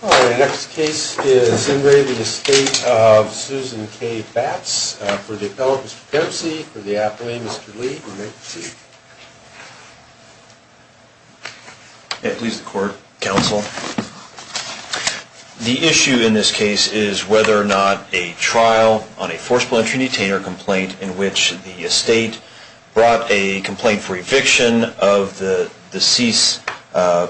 The next case is in re the Estate of Susan K. Batts for the appellate Mr. Kempsey, for the appellate Mr. Lee, you may proceed. Please the court, counsel. The issue in this case is whether or not a trial on a forcible entry detainer complaint in which the estate brought a complaint for eviction of the deceased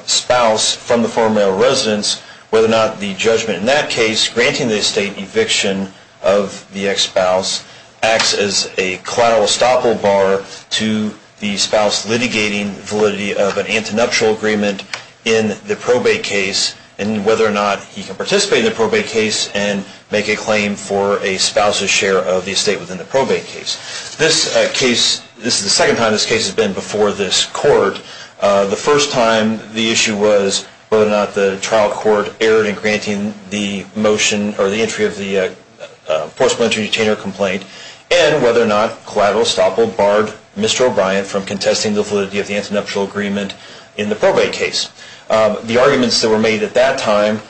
spouse from the former male residence, whether or not the judgment in that case, granting the estate eviction of the ex-spouse, acts as a collateral estoppel bar to the spouse litigating validity of an antinuptial agreement in the probate case, and whether or not he can participate in the probate case and make a claim for a spouse's share of the estate within the probate case. This case, this is the second time this case has been before this court. The first time the issue was whether or not the trial court erred in granting the motion, or the entry of the forcible entry detainer complaint, and whether or not collateral estoppel barred Mr. O'Brien from contesting the validity of the antinuptial agreement in the probate case. The arguments that were made at that time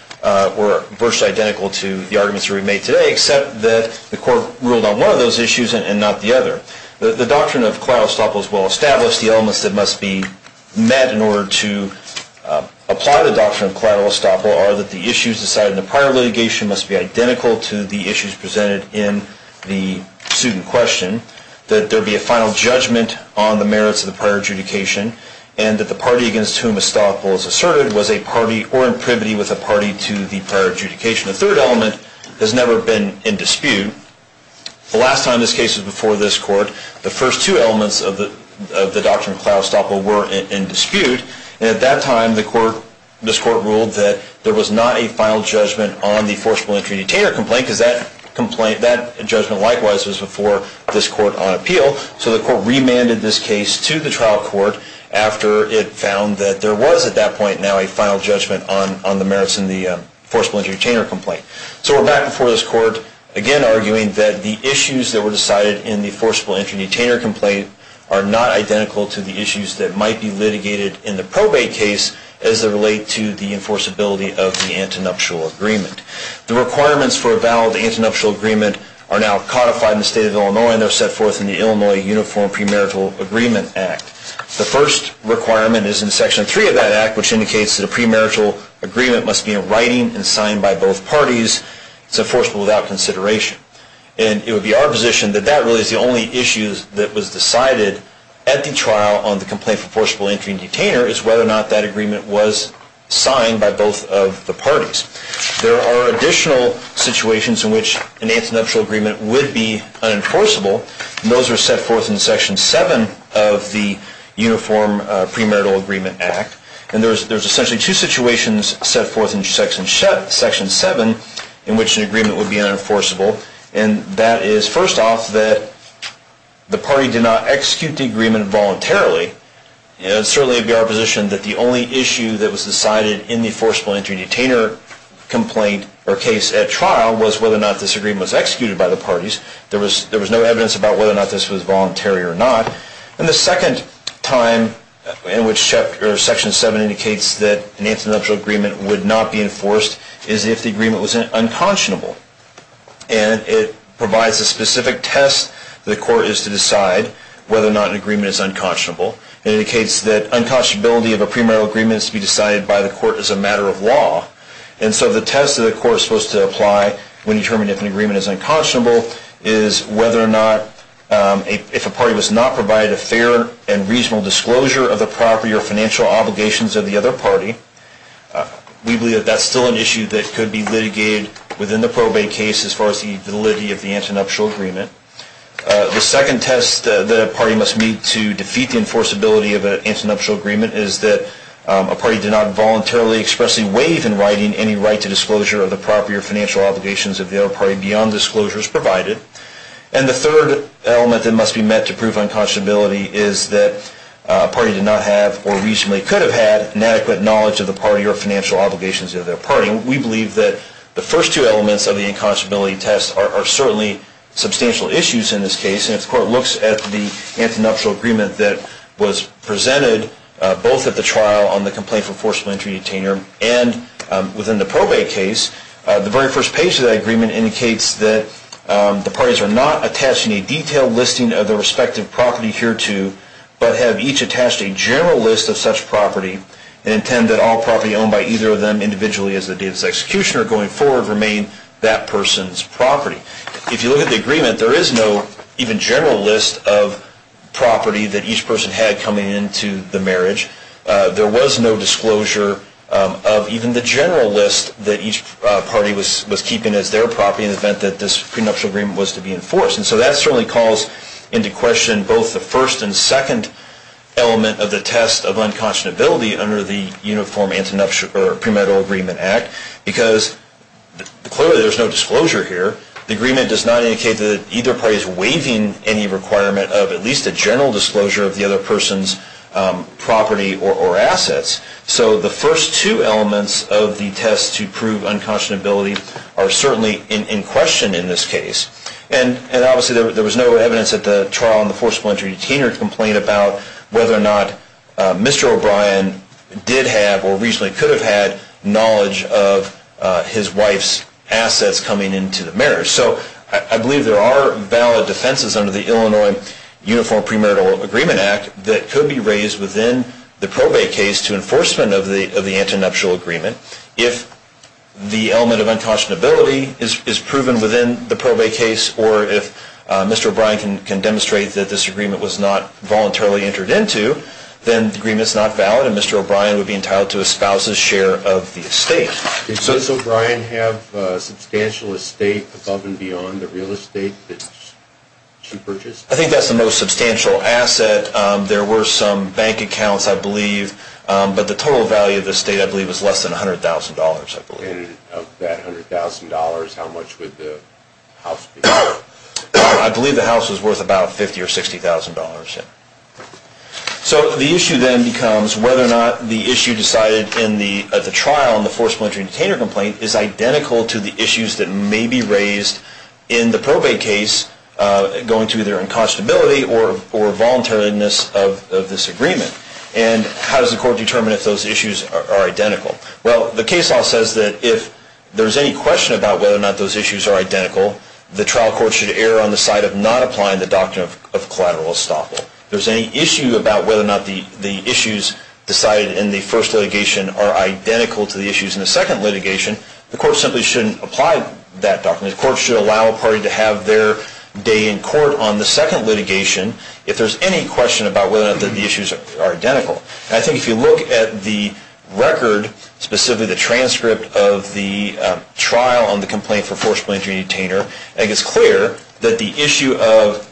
were virtually identical to the arguments that we've made today, except that the court ruled on one of those issues and not the other. The doctrine of collateral estoppel is well established. The elements that must be met in order to apply the doctrine of collateral estoppel are that the issues decided in the prior litigation must be identical to the issues presented in the suit in question, that there be a final judgment on the merits of the prior adjudication, and that the party against whom estoppel is asserted was a party or in privity with a party to the prior adjudication. The third element has never been in dispute. The last time this case was before this court, the first two elements of the doctrine of collateral estoppel were in dispute, and at that time this court ruled that there was not a final judgment on the forcible entry detainer complaint, because that judgment likewise was before this court on appeal. So the court remanded this case to the trial court after it found that there was at that point now a final judgment on the merits in the forcible entry detainer complaint. So we're back before this court again arguing that the issues that were decided in the forcible entry detainer complaint are not identical to the issues that might be litigated in the probate case as they relate to the enforceability of the antinuptial agreement. The requirements for a valid antinuptial agreement are now codified in the state of Illinois and are set forth in the Illinois Uniform Premarital Agreement Act. The first requirement is in Section 3 of that act, which indicates that a premarital agreement must be in writing and signed by both parties. It's enforceable without consideration. And it would be our position that that really is the only issue that was decided at the trial on the complaint for forcible entry detainer is whether or not that agreement was signed by both of the parties. There are additional situations in which an antinuptial agreement would be unenforceable. And those are set forth in Section 7 of the Uniform Premarital Agreement Act. And there's essentially two situations set forth in Section 7 in which an agreement would be unenforceable. And that is, first off, that the party did not execute the agreement voluntarily. And it certainly would be our position that the only issue that was decided in the forcible entry detainer complaint or case at trial was whether or not this agreement was executed by the parties. There was no evidence about whether or not this was voluntary or not. And the second time in which Section 7 indicates that an antinuptial agreement would not be enforced is if the agreement was unconscionable. And it provides a specific test that the court is to decide whether or not an agreement is unconscionable. It indicates that unconscionability of a premarital agreement is to be decided by the court as a matter of law. And so the test that the court is supposed to apply when determining if an agreement is unconscionable is whether or not if a party does not provide a fair and reasonable disclosure of the property or financial obligations of the other party, we believe that that's still an issue that could be litigated within the probate case as far as the validity of the antinuptial agreement. The second test that a party must meet to defeat the enforceability of an antinuptial agreement is that a party did not voluntarily expressly waive in writing any right to disclosure of the property or financial obligations of the other party beyond disclosures provided. And the third element that must be met to prove unconscionability is that a party did not have or reasonably could have had inadequate knowledge of the party or financial obligations of the other party. We believe that the first two elements of the unconscionability test are certainly substantial issues in this case. And if the court looks at the antinuptial agreement that was presented both at the trial on the complaint for forcible entry detainer and within the probate case, the very first page of that agreement indicates that the parties are not attaching a detailed listing of their respective property hereto but have each attached a general list of such property and intend that all property owned by either of them individually as of the date of its execution or going forward remain that person's property. If you look at the agreement, there is no even general list of property that each person had coming into the marriage. There was no disclosure of even the general list that each party was keeping as their property in the event that this prenuptial agreement was to be enforced. And so that certainly calls into question both the first and second element of the test of unconscionability under the Uniform Prenuptial Agreement Act because clearly there is no disclosure here. The agreement does not indicate that either party is waiving any requirement of at least a general disclosure of the other person's property or assets. So the first two elements of the test to prove unconscionability are certainly in question in this case. And obviously there was no evidence at the trial in the forceful entry detainer complaint about whether or not Mr. O'Brien did have or reasonably could have had knowledge of his wife's assets coming into the marriage. So I believe there are valid defenses under the Illinois Uniform Prenuptial Agreement Act that could be raised within the probate case to enforcement of the antinuptial agreement If the element of unconscionability is proven within the probate case or if Mr. O'Brien can demonstrate that this agreement was not voluntarily entered into, then the agreement is not valid and Mr. O'Brien would be entitled to a spouse's share of the estate. Did Ms. O'Brien have substantial estate above and beyond the real estate that she purchased? I think that's the most substantial asset. There were some bank accounts, I believe, but the total value of the estate I believe was less than $100,000. And of that $100,000, how much would the house be worth? I believe the house was worth about $50,000 or $60,000. So the issue then becomes whether or not the issue decided in the trial in the forceful entry detainer complaint is identical to the issues that may be raised in the probate case going to their unconscionability or voluntariness of this agreement. And how does the court determine if those issues are identical? Well, the case law says that if there's any question about whether or not those issues are identical, the trial court should err on the side of not applying the doctrine of collateral estoppel. If there's any issue about whether or not the issues decided in the first litigation are identical to the issues in the second litigation, the court simply shouldn't apply that doctrine. The court should allow a party to have their day in court on the second litigation if there's any question about whether or not the issues are identical. I think if you look at the record, specifically the transcript of the trial on the complaint for forceful entry detainer, it's clear that the issue of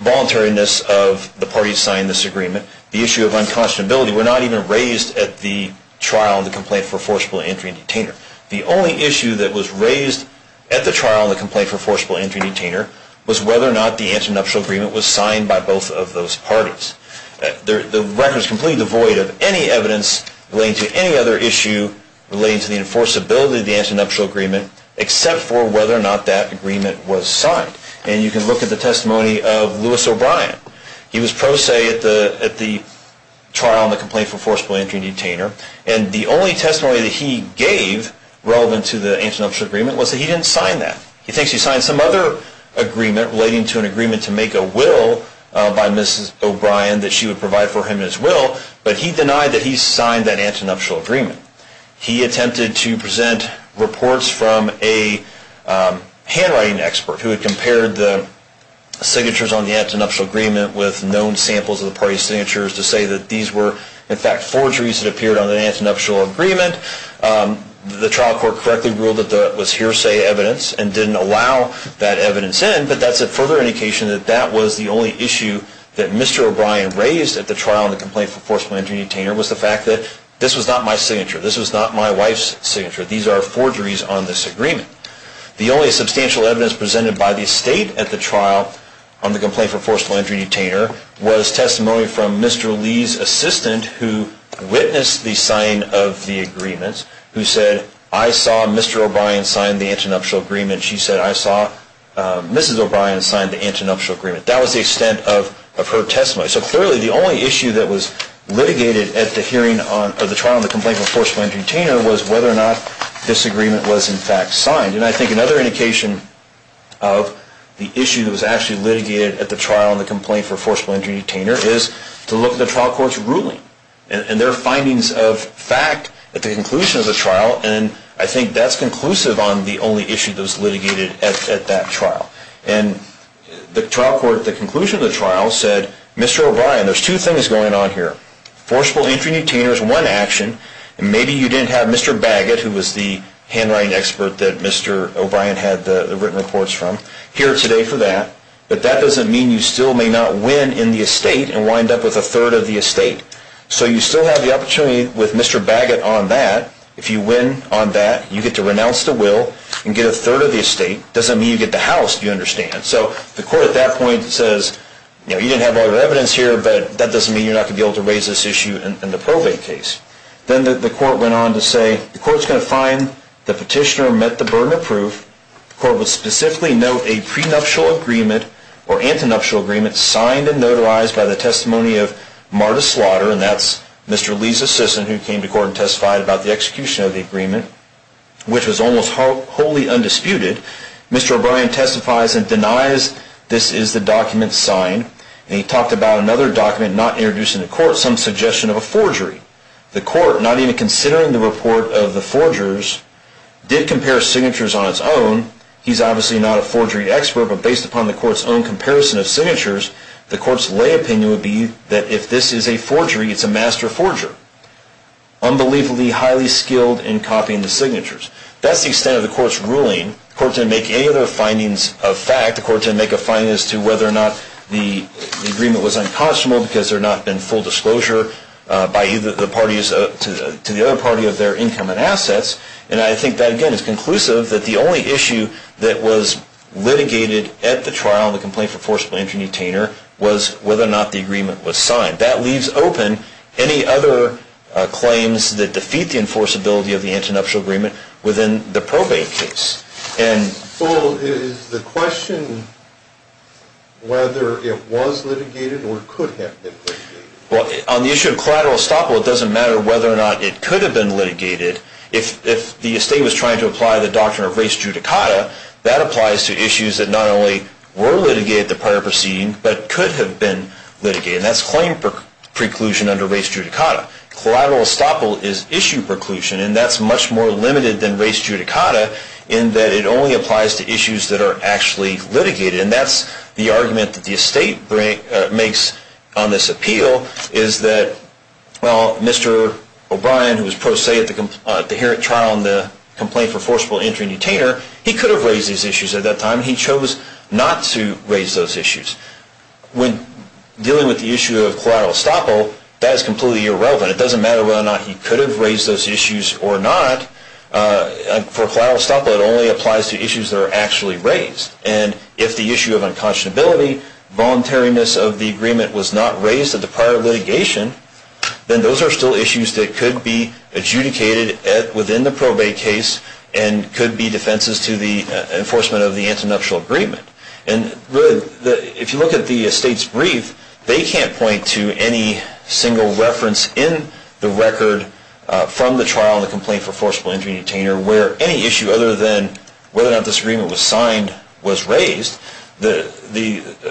voluntariness of the parties signed this agreement, the issue of unconscionability, were not even raised at the trial in the complaint for forceful entry detainer. The only issue that was raised at the trial in the complaint for forceful entry detainer was whether or not the antinuptial agreement was signed by both of those parties. The record is completely devoid of any evidence relating to any other issue relating to the enforceability of the antinuptial agreement except for whether or not that agreement was signed. And you can look at the testimony of Lewis O'Brien. He was pro se at the trial in the complaint for forceful entry detainer. And the only testimony that he gave relevant to the antinuptial agreement was that he didn't sign that. He thinks he signed some other agreement relating to an agreement to make a will by Mrs. O'Brien that she would provide for him as will, but he denied that he signed that antinuptial agreement. He attempted to present reports from a handwriting expert who had compared the signatures on the antinuptial agreement with known samples of the party's signatures to say that these were, in fact, forgeries that appeared on the antinuptial agreement. The trial court correctly ruled that that was hearsay evidence and didn't allow that evidence in, but that's a further indication that that was the only issue that Mr. O'Brien raised at the trial in the complaint for forceful entry detainer was the fact that this was not my signature. This was not my wife's signature. These are forgeries on this agreement. The only substantial evidence presented by the state at the trial on the complaint for forceful entry detainer was testimony from Mr. Lee's assistant who witnessed the signing of the agreement, who said, I saw Mr. O'Brien sign the antinuptial agreement. She said, I saw Mrs. O'Brien sign the antinuptial agreement. That was the extent of her testimony. So clearly the only issue that was litigated at the hearing of the trial on the complaint for forceful entry detainer was whether or not this agreement was in fact signed. And I think another indication of the issue that was actually litigated at the trial on the complaint for forceful entry detainer is to look at the trial court's ruling and their findings of fact at the conclusion of the trial, and I think that's conclusive on the only issue that was litigated at that trial. And the trial court at the conclusion of the trial said, Mr. O'Brien, there's two things going on here. Forceful entry detainer is one action, and maybe you didn't have Mr. Baggett, who was the handwriting expert that Mr. O'Brien had the written reports from, here today for that, but that doesn't mean you still may not win in the estate and wind up with a third of the estate. So you still have the opportunity with Mr. Baggett on that. If you win on that, you get to renounce the will and get a third of the estate. It doesn't mean you get the house, do you understand? So the court at that point says, you know, you didn't have all your evidence here, but that doesn't mean you're not going to be able to raise this issue in the probate case. Then the court went on to say, the court's going to find the petitioner met the burden of proof. The court would specifically note a prenuptial agreement or antinuptial agreement signed and notarized by the testimony of Marta Slaughter, and that's Mr. Lee's assistant, who came to court and testified about the execution of the agreement, which was almost wholly undisputed. Mr. O'Brien testifies and denies this is the document signed, and he talked about another document not introduced in the court, some suggestion of a forgery. The court, not even considering the report of the forgers, did compare signatures on its own. He's obviously not a forgery expert, but based upon the court's own comparison of signatures, the court's lay opinion would be that if this is a forgery, it's a master forger. Unbelievably highly skilled in copying the signatures. That's the extent of the court's ruling. The court didn't make any other findings of fact. The court didn't make a finding as to whether or not the agreement was unconscionable because there had not been full disclosure to the other party of their income and assets. And I think that, again, is conclusive that the only issue that was litigated at the trial, the complaint for forcible entry and detainer, was whether or not the agreement was signed. That leaves open any other claims that defeat the enforceability of the antinuptial agreement within the probate case. So is the question whether it was litigated or could have been litigated? Well, on the issue of collateral estoppel, it doesn't matter whether or not it could have been litigated. If the estate was trying to apply the doctrine of res judicata, that applies to issues that not only were litigated at the prior proceeding, but could have been litigated. And that's claim preclusion under res judicata. Collateral estoppel is issue preclusion, and that's much more limited than res judicata in that it only applies to issues that are actually litigated. And that's the argument that the estate makes on this appeal, is that, well, Mr. O'Brien, who was pro se at the trial on the complaint for forcible entry and detainer, he could have raised these issues at that time. He chose not to raise those issues. When dealing with the issue of collateral estoppel, that is completely irrelevant. It doesn't matter whether or not he could have raised those issues or not. For collateral estoppel, it only applies to issues that are actually raised. And if the issue of unconscionability, voluntariness of the agreement was not raised at the prior litigation, then those are still issues that could be adjudicated within the probate case and could be defenses to the enforcement of the antinuptial agreement. And if you look at the estate's brief, they can't point to any single reference in the record from the trial on the complaint for forcible entry and detainer where any issue other than whether or not this agreement was signed was raised. The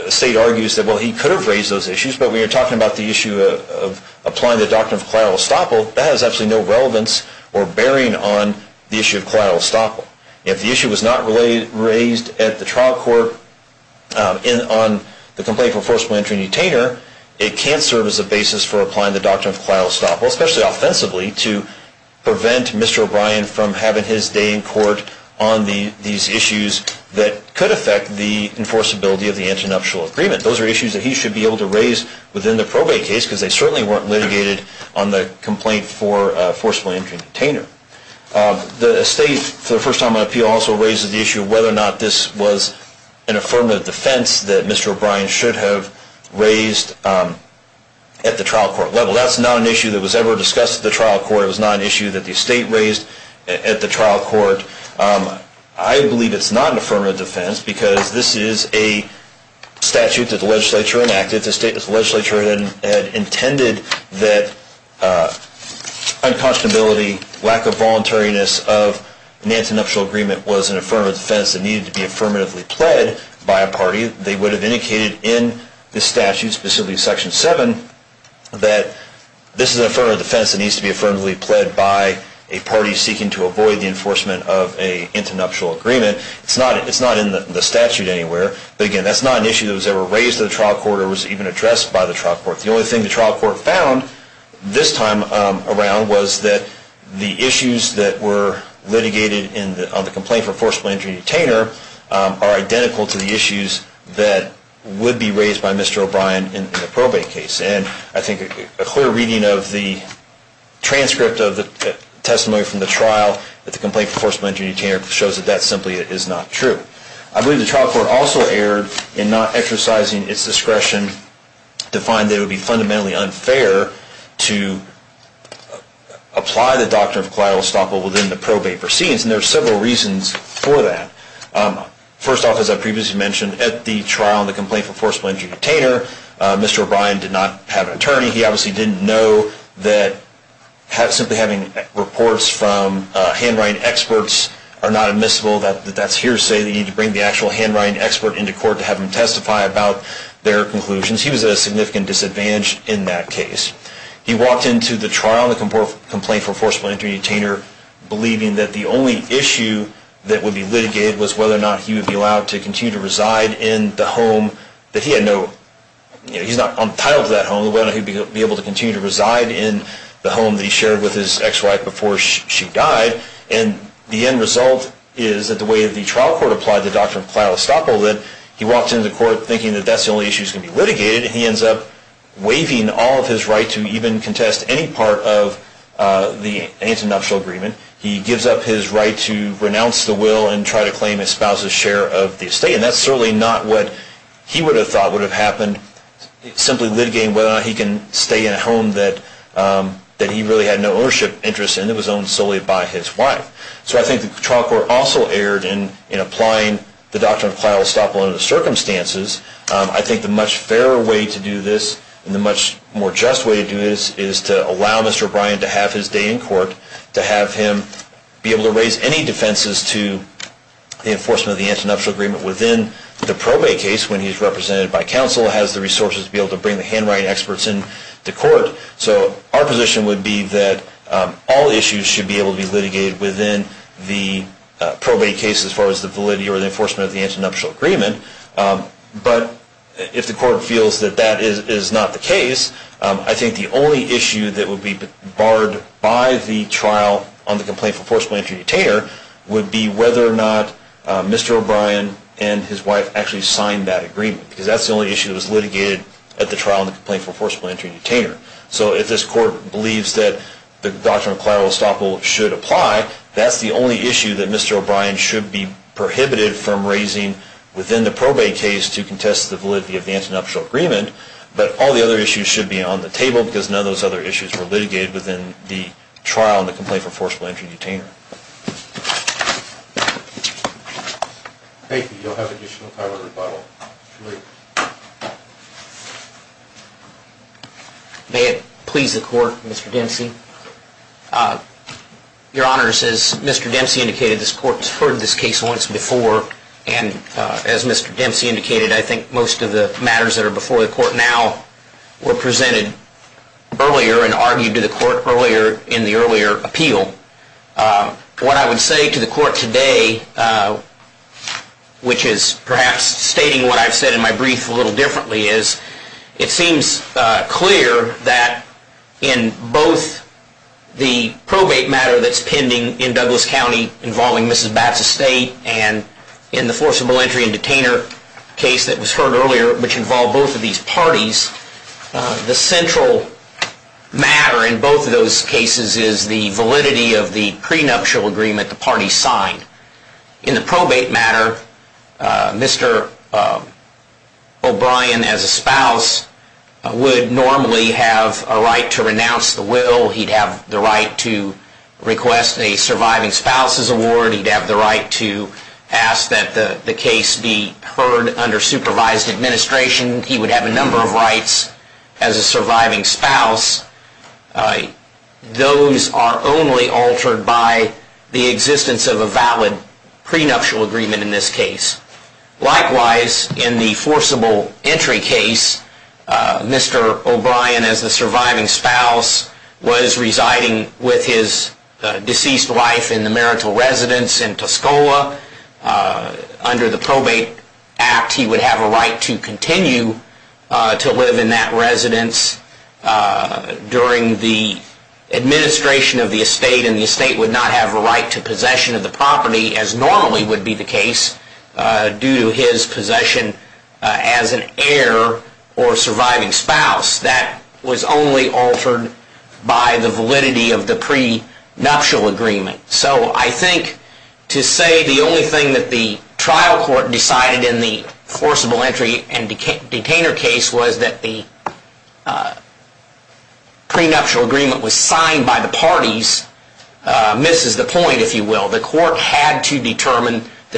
estate argues that, well, he could have raised those issues, but when you're talking about the issue of applying the doctrine of collateral estoppel, that has absolutely no relevance or bearing on the issue of collateral estoppel. If the issue was not raised at the trial court on the complaint for forcible entry and detainer, it can't serve as a basis for applying the doctrine of collateral estoppel, especially offensively to prevent Mr. O'Brien from having his day in court on these issues that could affect the enforceability of the antinuptial agreement. Those are issues that he should be able to raise within the probate case because they certainly weren't litigated on the complaint for forcible entry and detainer. The estate, for the first time on appeal, also raises the issue of whether or not this was an affirmative defense that Mr. O'Brien should have raised at the trial court level. That's not an issue that was ever discussed at the trial court. It was not an issue that the estate raised at the trial court. I believe it's not an affirmative defense because this is a statute that the legislature enacted. If the legislature had intended that unconscionability, lack of voluntariness of an antinuptial agreement was an affirmative defense that needed to be affirmatively pled by a party, they would have indicated in this statute, specifically Section 7, that this is an affirmative defense that needs to be affirmatively pled by a party seeking to avoid the enforcement of an antinuptial agreement. It's not in the statute anywhere. But again, that's not an issue that was ever raised at the trial court or was even addressed by the trial court. The only thing the trial court found this time around was that the issues that were litigated on the complaint for forcible entry and detainer are identical to the issues that would be raised by Mr. O'Brien in the probate case. And I think a clear reading of the transcript of the testimony from the trial that the complaint for forcible entry and detainer shows that that simply is not true. I believe the trial court also erred in not exercising its discretion to find that it would be fundamentally unfair to apply the doctrine of collateral estoppel within the probate proceedings, and there are several reasons for that. First off, as I previously mentioned, at the trial, the complaint for forcible entry and detainer, Mr. O'Brien did not have an attorney. He obviously didn't know that simply having reports from handwriting experts are not admissible, that that's hearsay, that you need to bring the actual handwriting expert into court to have them testify about their conclusions. He was at a significant disadvantage in that case. He walked into the trial on the complaint for forcible entry and detainer believing that the only issue that would be litigated was whether or not he would be allowed to continue to reside in the home that he had no, you know, he's not entitled to that home, whether he'd be able to continue to reside in the home that he shared with his ex-wife before she died, and the end result is that the way the trial court applied the doctrine of collateral estoppel, that he walked into court thinking that that's the only issue that's going to be litigated, and he ends up waiving all of his right to even contest any part of the anti-nuptial agreement. He gives up his right to renounce the will and try to claim his spouse's share of the estate, and that's certainly not what he would have thought would have happened, simply litigating whether or not he can stay in a home that he really had no ownership interest in and was owned solely by his wife. So I think the trial court also erred in applying the doctrine of collateral estoppel under the circumstances. I think the much fairer way to do this and the much more just way to do this is to allow Mr. O'Brien to have his day in court, to have him be able to raise any defenses to the enforcement of the anti-nuptial agreement within the probate case when he's represented by counsel, and counsel has the resources to be able to bring the handwriting experts into court. So our position would be that all issues should be able to be litigated within the probate case as far as the validity or the enforcement of the anti-nuptial agreement. But if the court feels that that is not the case, I think the only issue that would be barred by the trial on the complaint for forcible entry detainer would be whether or not Mr. O'Brien and his wife actually signed that agreement, because that's the only issue that was litigated at the trial on the complaint for forcible entry detainer. So if this court believes that the doctrine of collateral estoppel should apply, that's the only issue that Mr. O'Brien should be prohibited from raising within the probate case to contest the validity of the anti-nuptial agreement, but all the other issues should be on the table because none of those other issues were litigated within the trial on the complaint for forcible entry detainer. Thank you. You'll have additional time for rebuttal. May it please the court, Mr. Dempsey. Your Honor, as Mr. Dempsey indicated, this court has heard this case once before, and as Mr. Dempsey indicated, I think most of the matters that are before the court now were presented earlier and argued to the court earlier in the earlier appeal. What I would say to the court today, which is perhaps stating what I've said in my brief a little differently, is it seems clear that in both the probate matter that's pending in Douglas County involving Mrs. Batts' estate and in the forcible entry and detainer case that was heard earlier, which involved both of these parties, the central matter in both of those cases is the validity of the prenuptial agreement the parties signed. In the probate matter, Mr. O'Brien as a spouse would normally have a right to renounce the will. He'd have the right to request a surviving spouse's award. He'd have the right to ask that the case be heard under supervised administration. He would have a number of rights as a surviving spouse. Those are only altered by the existence of a valid prenuptial agreement in this case. Likewise, in the forcible entry case, Mr. O'Brien as the surviving spouse was residing with his deceased wife in the marital residence in Tuscola. Under the probate act, he would have a right to continue to live in that residence during the administration of the estate, and the estate would not have a right to possession of the property as normally would be the case due to his possession as an heir or surviving spouse. That was only altered by the validity of the prenuptial agreement. I think to say the only thing that the trial court decided in the forcible entry and detainer case was that the prenuptial agreement was signed by the parties misses the point, if you will. The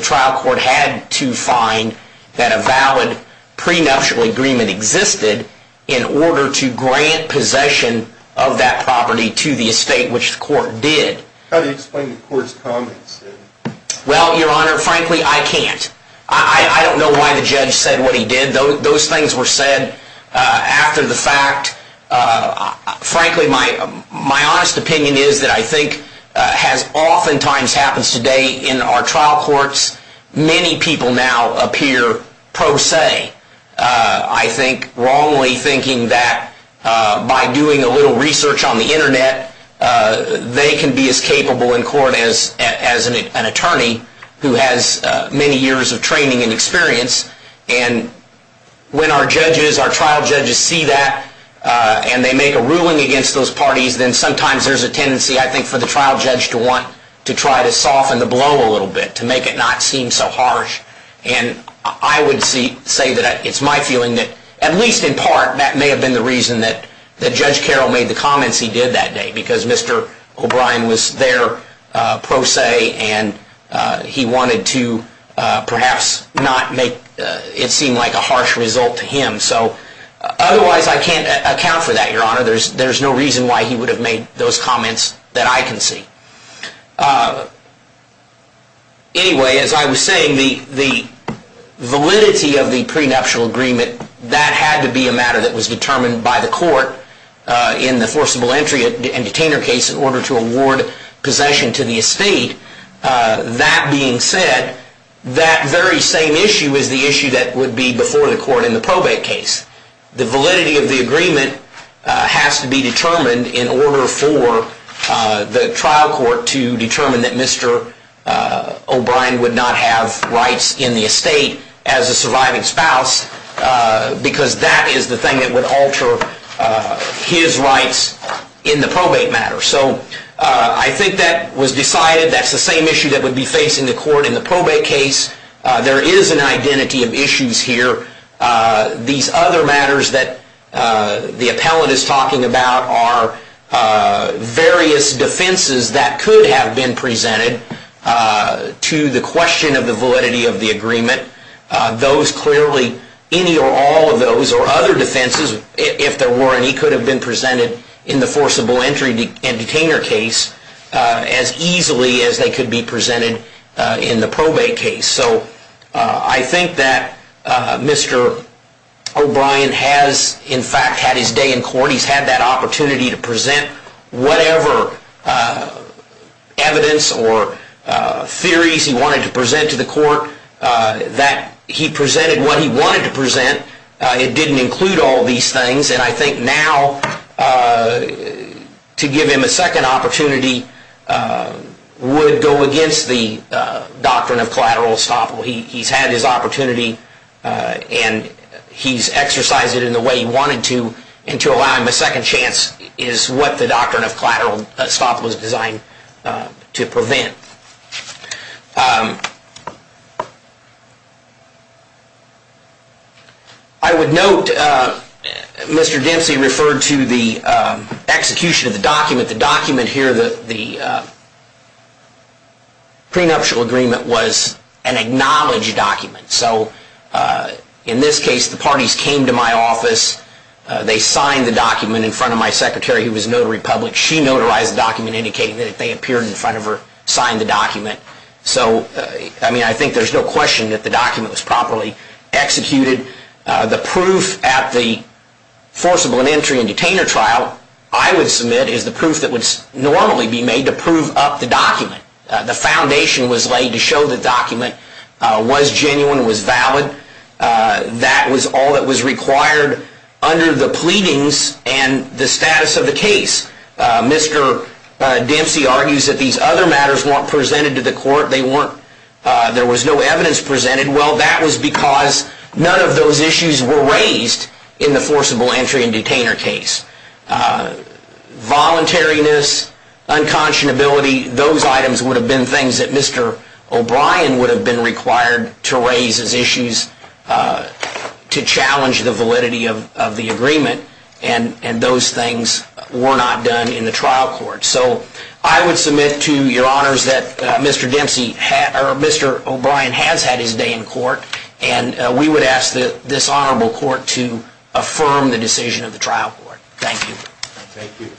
trial court had to find that a valid prenuptial agreement existed in order to grant possession of that property to the estate, which the court did. How do you explain the court's comments? Well, your honor, frankly, I can't. I don't know why the judge said what he did. Those things were said after the fact. Frankly, my honest opinion is that I think as often times happens today in our trial courts, many people now appear pro se. I think wrongly thinking that by doing a little research on the internet, they can be as capable in court as an attorney who has many years of training and experience. And when our judges, our trial judges, see that and they make a ruling against those parties, then sometimes there's a tendency, I think, for the trial judge to want to try to soften the blow a little bit, to make it not seem so harsh. And I would say that it's my feeling that, at least in part, that may have been the reason that Judge Carroll made the comments he did that day, because Mr. O'Brien was there pro se and he wanted to perhaps not make it seem like a harsh result to him. So otherwise, I can't account for that, your honor. There's no reason why he would have made those comments that I can see. Anyway, as I was saying, the validity of the prenuptial agreement, that had to be a matter that was determined by the court in the forcible entry and detainer case in order to award possession to the estate. That being said, that very same issue is the issue that would be before the court in the probate case. The validity of the agreement has to be determined in order for the trial court to determine that Mr. O'Brien would not have rights in the estate as a surviving spouse, because that is the thing that would alter his rights in the probate matter. So I think that was decided. That's the same issue that would be facing the court in the probate case. There is an identity of issues here. These other matters that the appellant is talking about are various defenses that could have been presented to the question of the validity of the agreement. Those clearly, any or all of those or other defenses, if there were any, could have been presented in the forcible entry and detainer case as easily as they could be presented in the probate case. So I think that Mr. O'Brien has, in fact, had his day in court. He's had that opportunity to present whatever evidence or theories he wanted to present to the court. He presented what he wanted to present. It didn't include all these things. And I think now to give him a second opportunity would go against the doctrine of collateral estoppel. He's had his opportunity, and he's exercised it in the way he wanted to, and to allow him a second chance is what the doctrine of collateral estoppel was designed to prevent. I would note Mr. Dempsey referred to the execution of the document. The document here, the prenuptial agreement, was an acknowledged document. So in this case, the parties came to my office. They signed the document in front of my secretary, who was notary public. She notarized the document, indicating that they appeared in front of her, signed the document. So I think there's no question that the document was properly executed. The proof at the forcible entry and detainer trial I would submit is the proof that would normally be made to prove up the document. The foundation was laid to show the document was genuine, was valid. That was all that was required under the pleadings and the status of the case. Mr. Dempsey argues that these other matters weren't presented to the court. There was no evidence presented. Well, that was because none of those issues were raised in the forcible entry and detainer case. Voluntariness, unconscionability, those items would have been things that Mr. O'Brien would have been required to raise as issues to challenge the validity of the agreement. And those things were not done in the trial court. So I would submit to your honors that Mr. O'Brien has had his day in court. And we would ask this honorable court to affirm the decision of the trial court. Thank you. Thank you.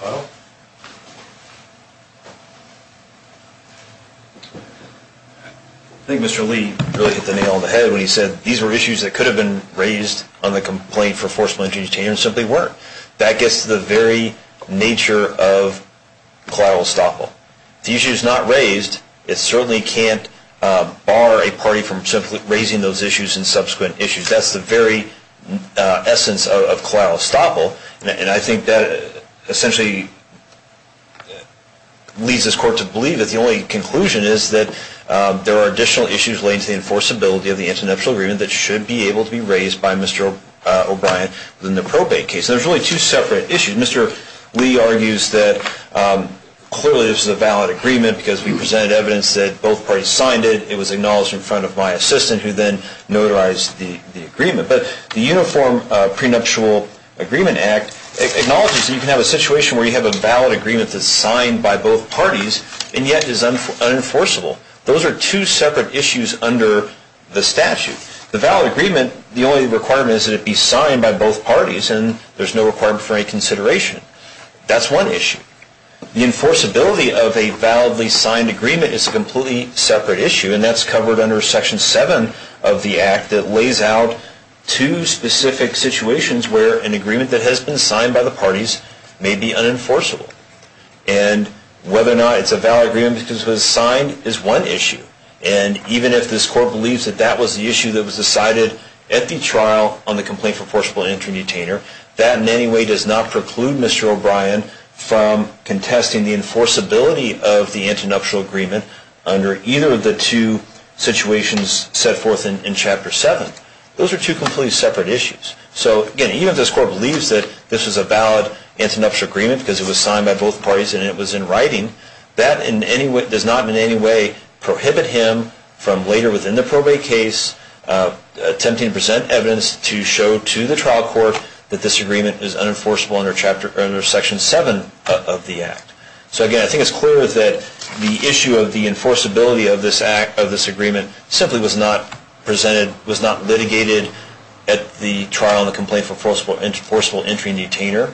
Hello? I think Mr. Lee really hit the nail on the head when he said these were issues that could have been raised on the complaint for forcible entry and detainer and simply weren't. That gets to the very nature of collateral estoppel. If the issue is not raised, it certainly can't bar a party from simply raising those issues and subsequent issues. That's the very essence of collateral estoppel. And I think that essentially leads this court to believe that the only conclusion is that there are additional issues related to the enforceability of the international agreement that should be able to be raised by Mr. O'Brien in the probate case. And there's really two separate issues. Mr. Lee argues that clearly this is a valid agreement because we presented evidence that both parties signed it. It was acknowledged in front of my assistant who then notarized the agreement. But the Uniform Prenuptial Agreement Act acknowledges that you can have a situation where you have a valid agreement that's signed by both parties and yet is unenforceable. Those are two separate issues under the statute. The valid agreement, the only requirement is that it be signed by both parties, and there's no requirement for any consideration. That's one issue. The enforceability of a validly signed agreement is a completely separate issue, and that's covered under Section 7 of the Act that lays out two specific situations where an agreement that has been signed by the parties may be unenforceable. And whether or not it's a valid agreement because it was signed is one issue. And even if this court believes that that was the issue that was decided at the trial on the complaint for forcible entry detainer, that in any way does not preclude Mr. O'Brien from contesting the enforceability of the international agreement under either of the two situations set forth in Chapter 7. Those are two completely separate issues. So, again, even if this court believes that this is a valid antenuptial agreement because it was signed by both parties and it was in writing, that does not in any way prohibit him from later within the probate case attempting to present evidence to show to the trial court that this agreement is unenforceable under Section 7 of the Act. So, again, I think it's clear that the issue of the enforceability of this agreement simply was not presented, was not litigated at the trial on the complaint for forcible entry detainer.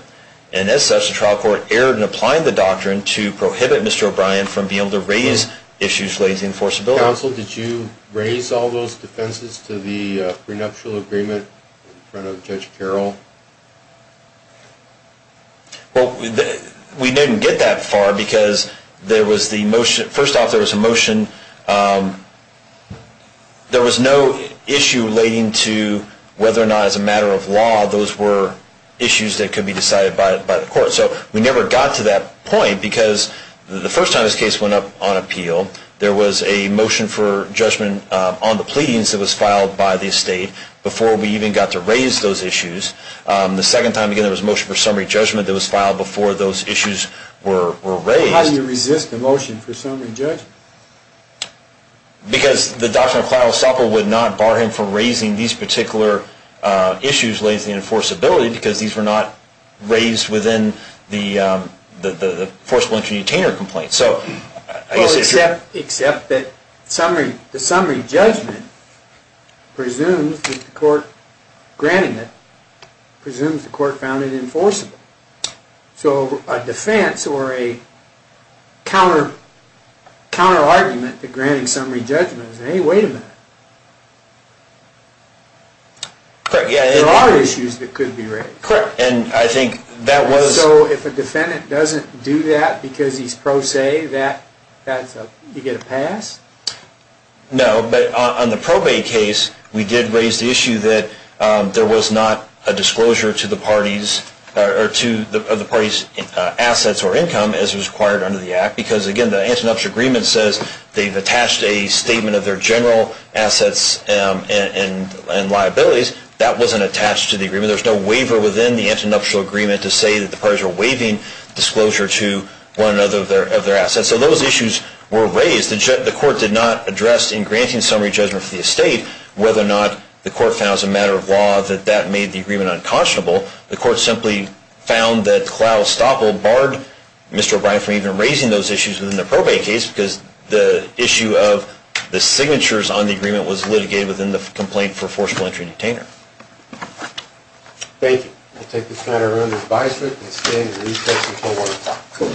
And as such, the trial court erred in applying the doctrine to prohibit Mr. O'Brien from being able to raise issues relating to enforceability. Counsel, did you raise all those defenses to the prenuptial agreement in front of Judge Carroll? Well, we didn't get that far because there was the motion. First off, there was a motion. There was no issue relating to whether or not as a matter of law those were issues that could be decided by the court. So we never got to that point because the first time this case went up on appeal, there was a motion for judgment on the pleadings that was filed by the estate before we even got to raise those issues. The second time, again, there was a motion for summary judgment that was filed before those issues were raised. Well, how do you resist a motion for summary judgment? Because the doctrine of collateral estoppel would not bar him from raising these particular issues relating to enforceability because these were not raised within the forcible entry detainer complaint. Well, except that the summary judgment presumes that the court found it enforceable. So a defense or a counter-argument to granting summary judgment is, hey, wait a minute. There are issues that could be raised. So if a defendant doesn't do that because he's pro se, do you get a pass? No, but on the probate case, we did raise the issue that there was not a disclosure to the parties' assets or income as was required under the Act because, again, the Antonov's agreement says they've attached a statement of their general assets and liabilities. There's no waiver within the Antonov's agreement to say that the parties are waiving disclosure to one another of their assets. So those issues were raised. The court did not address in granting summary judgment for the estate whether or not the court found as a matter of law that that made the agreement unconscionable. The court simply found that collateral estoppel barred Mr. O'Brien from even raising those issues within the probate case because the issue of the signatures on the agreement was litigated within the complaint for forceful entry and detainer. Thank you. I'll take this matter under advisement and stand in recess until 1 o'clock. Cool.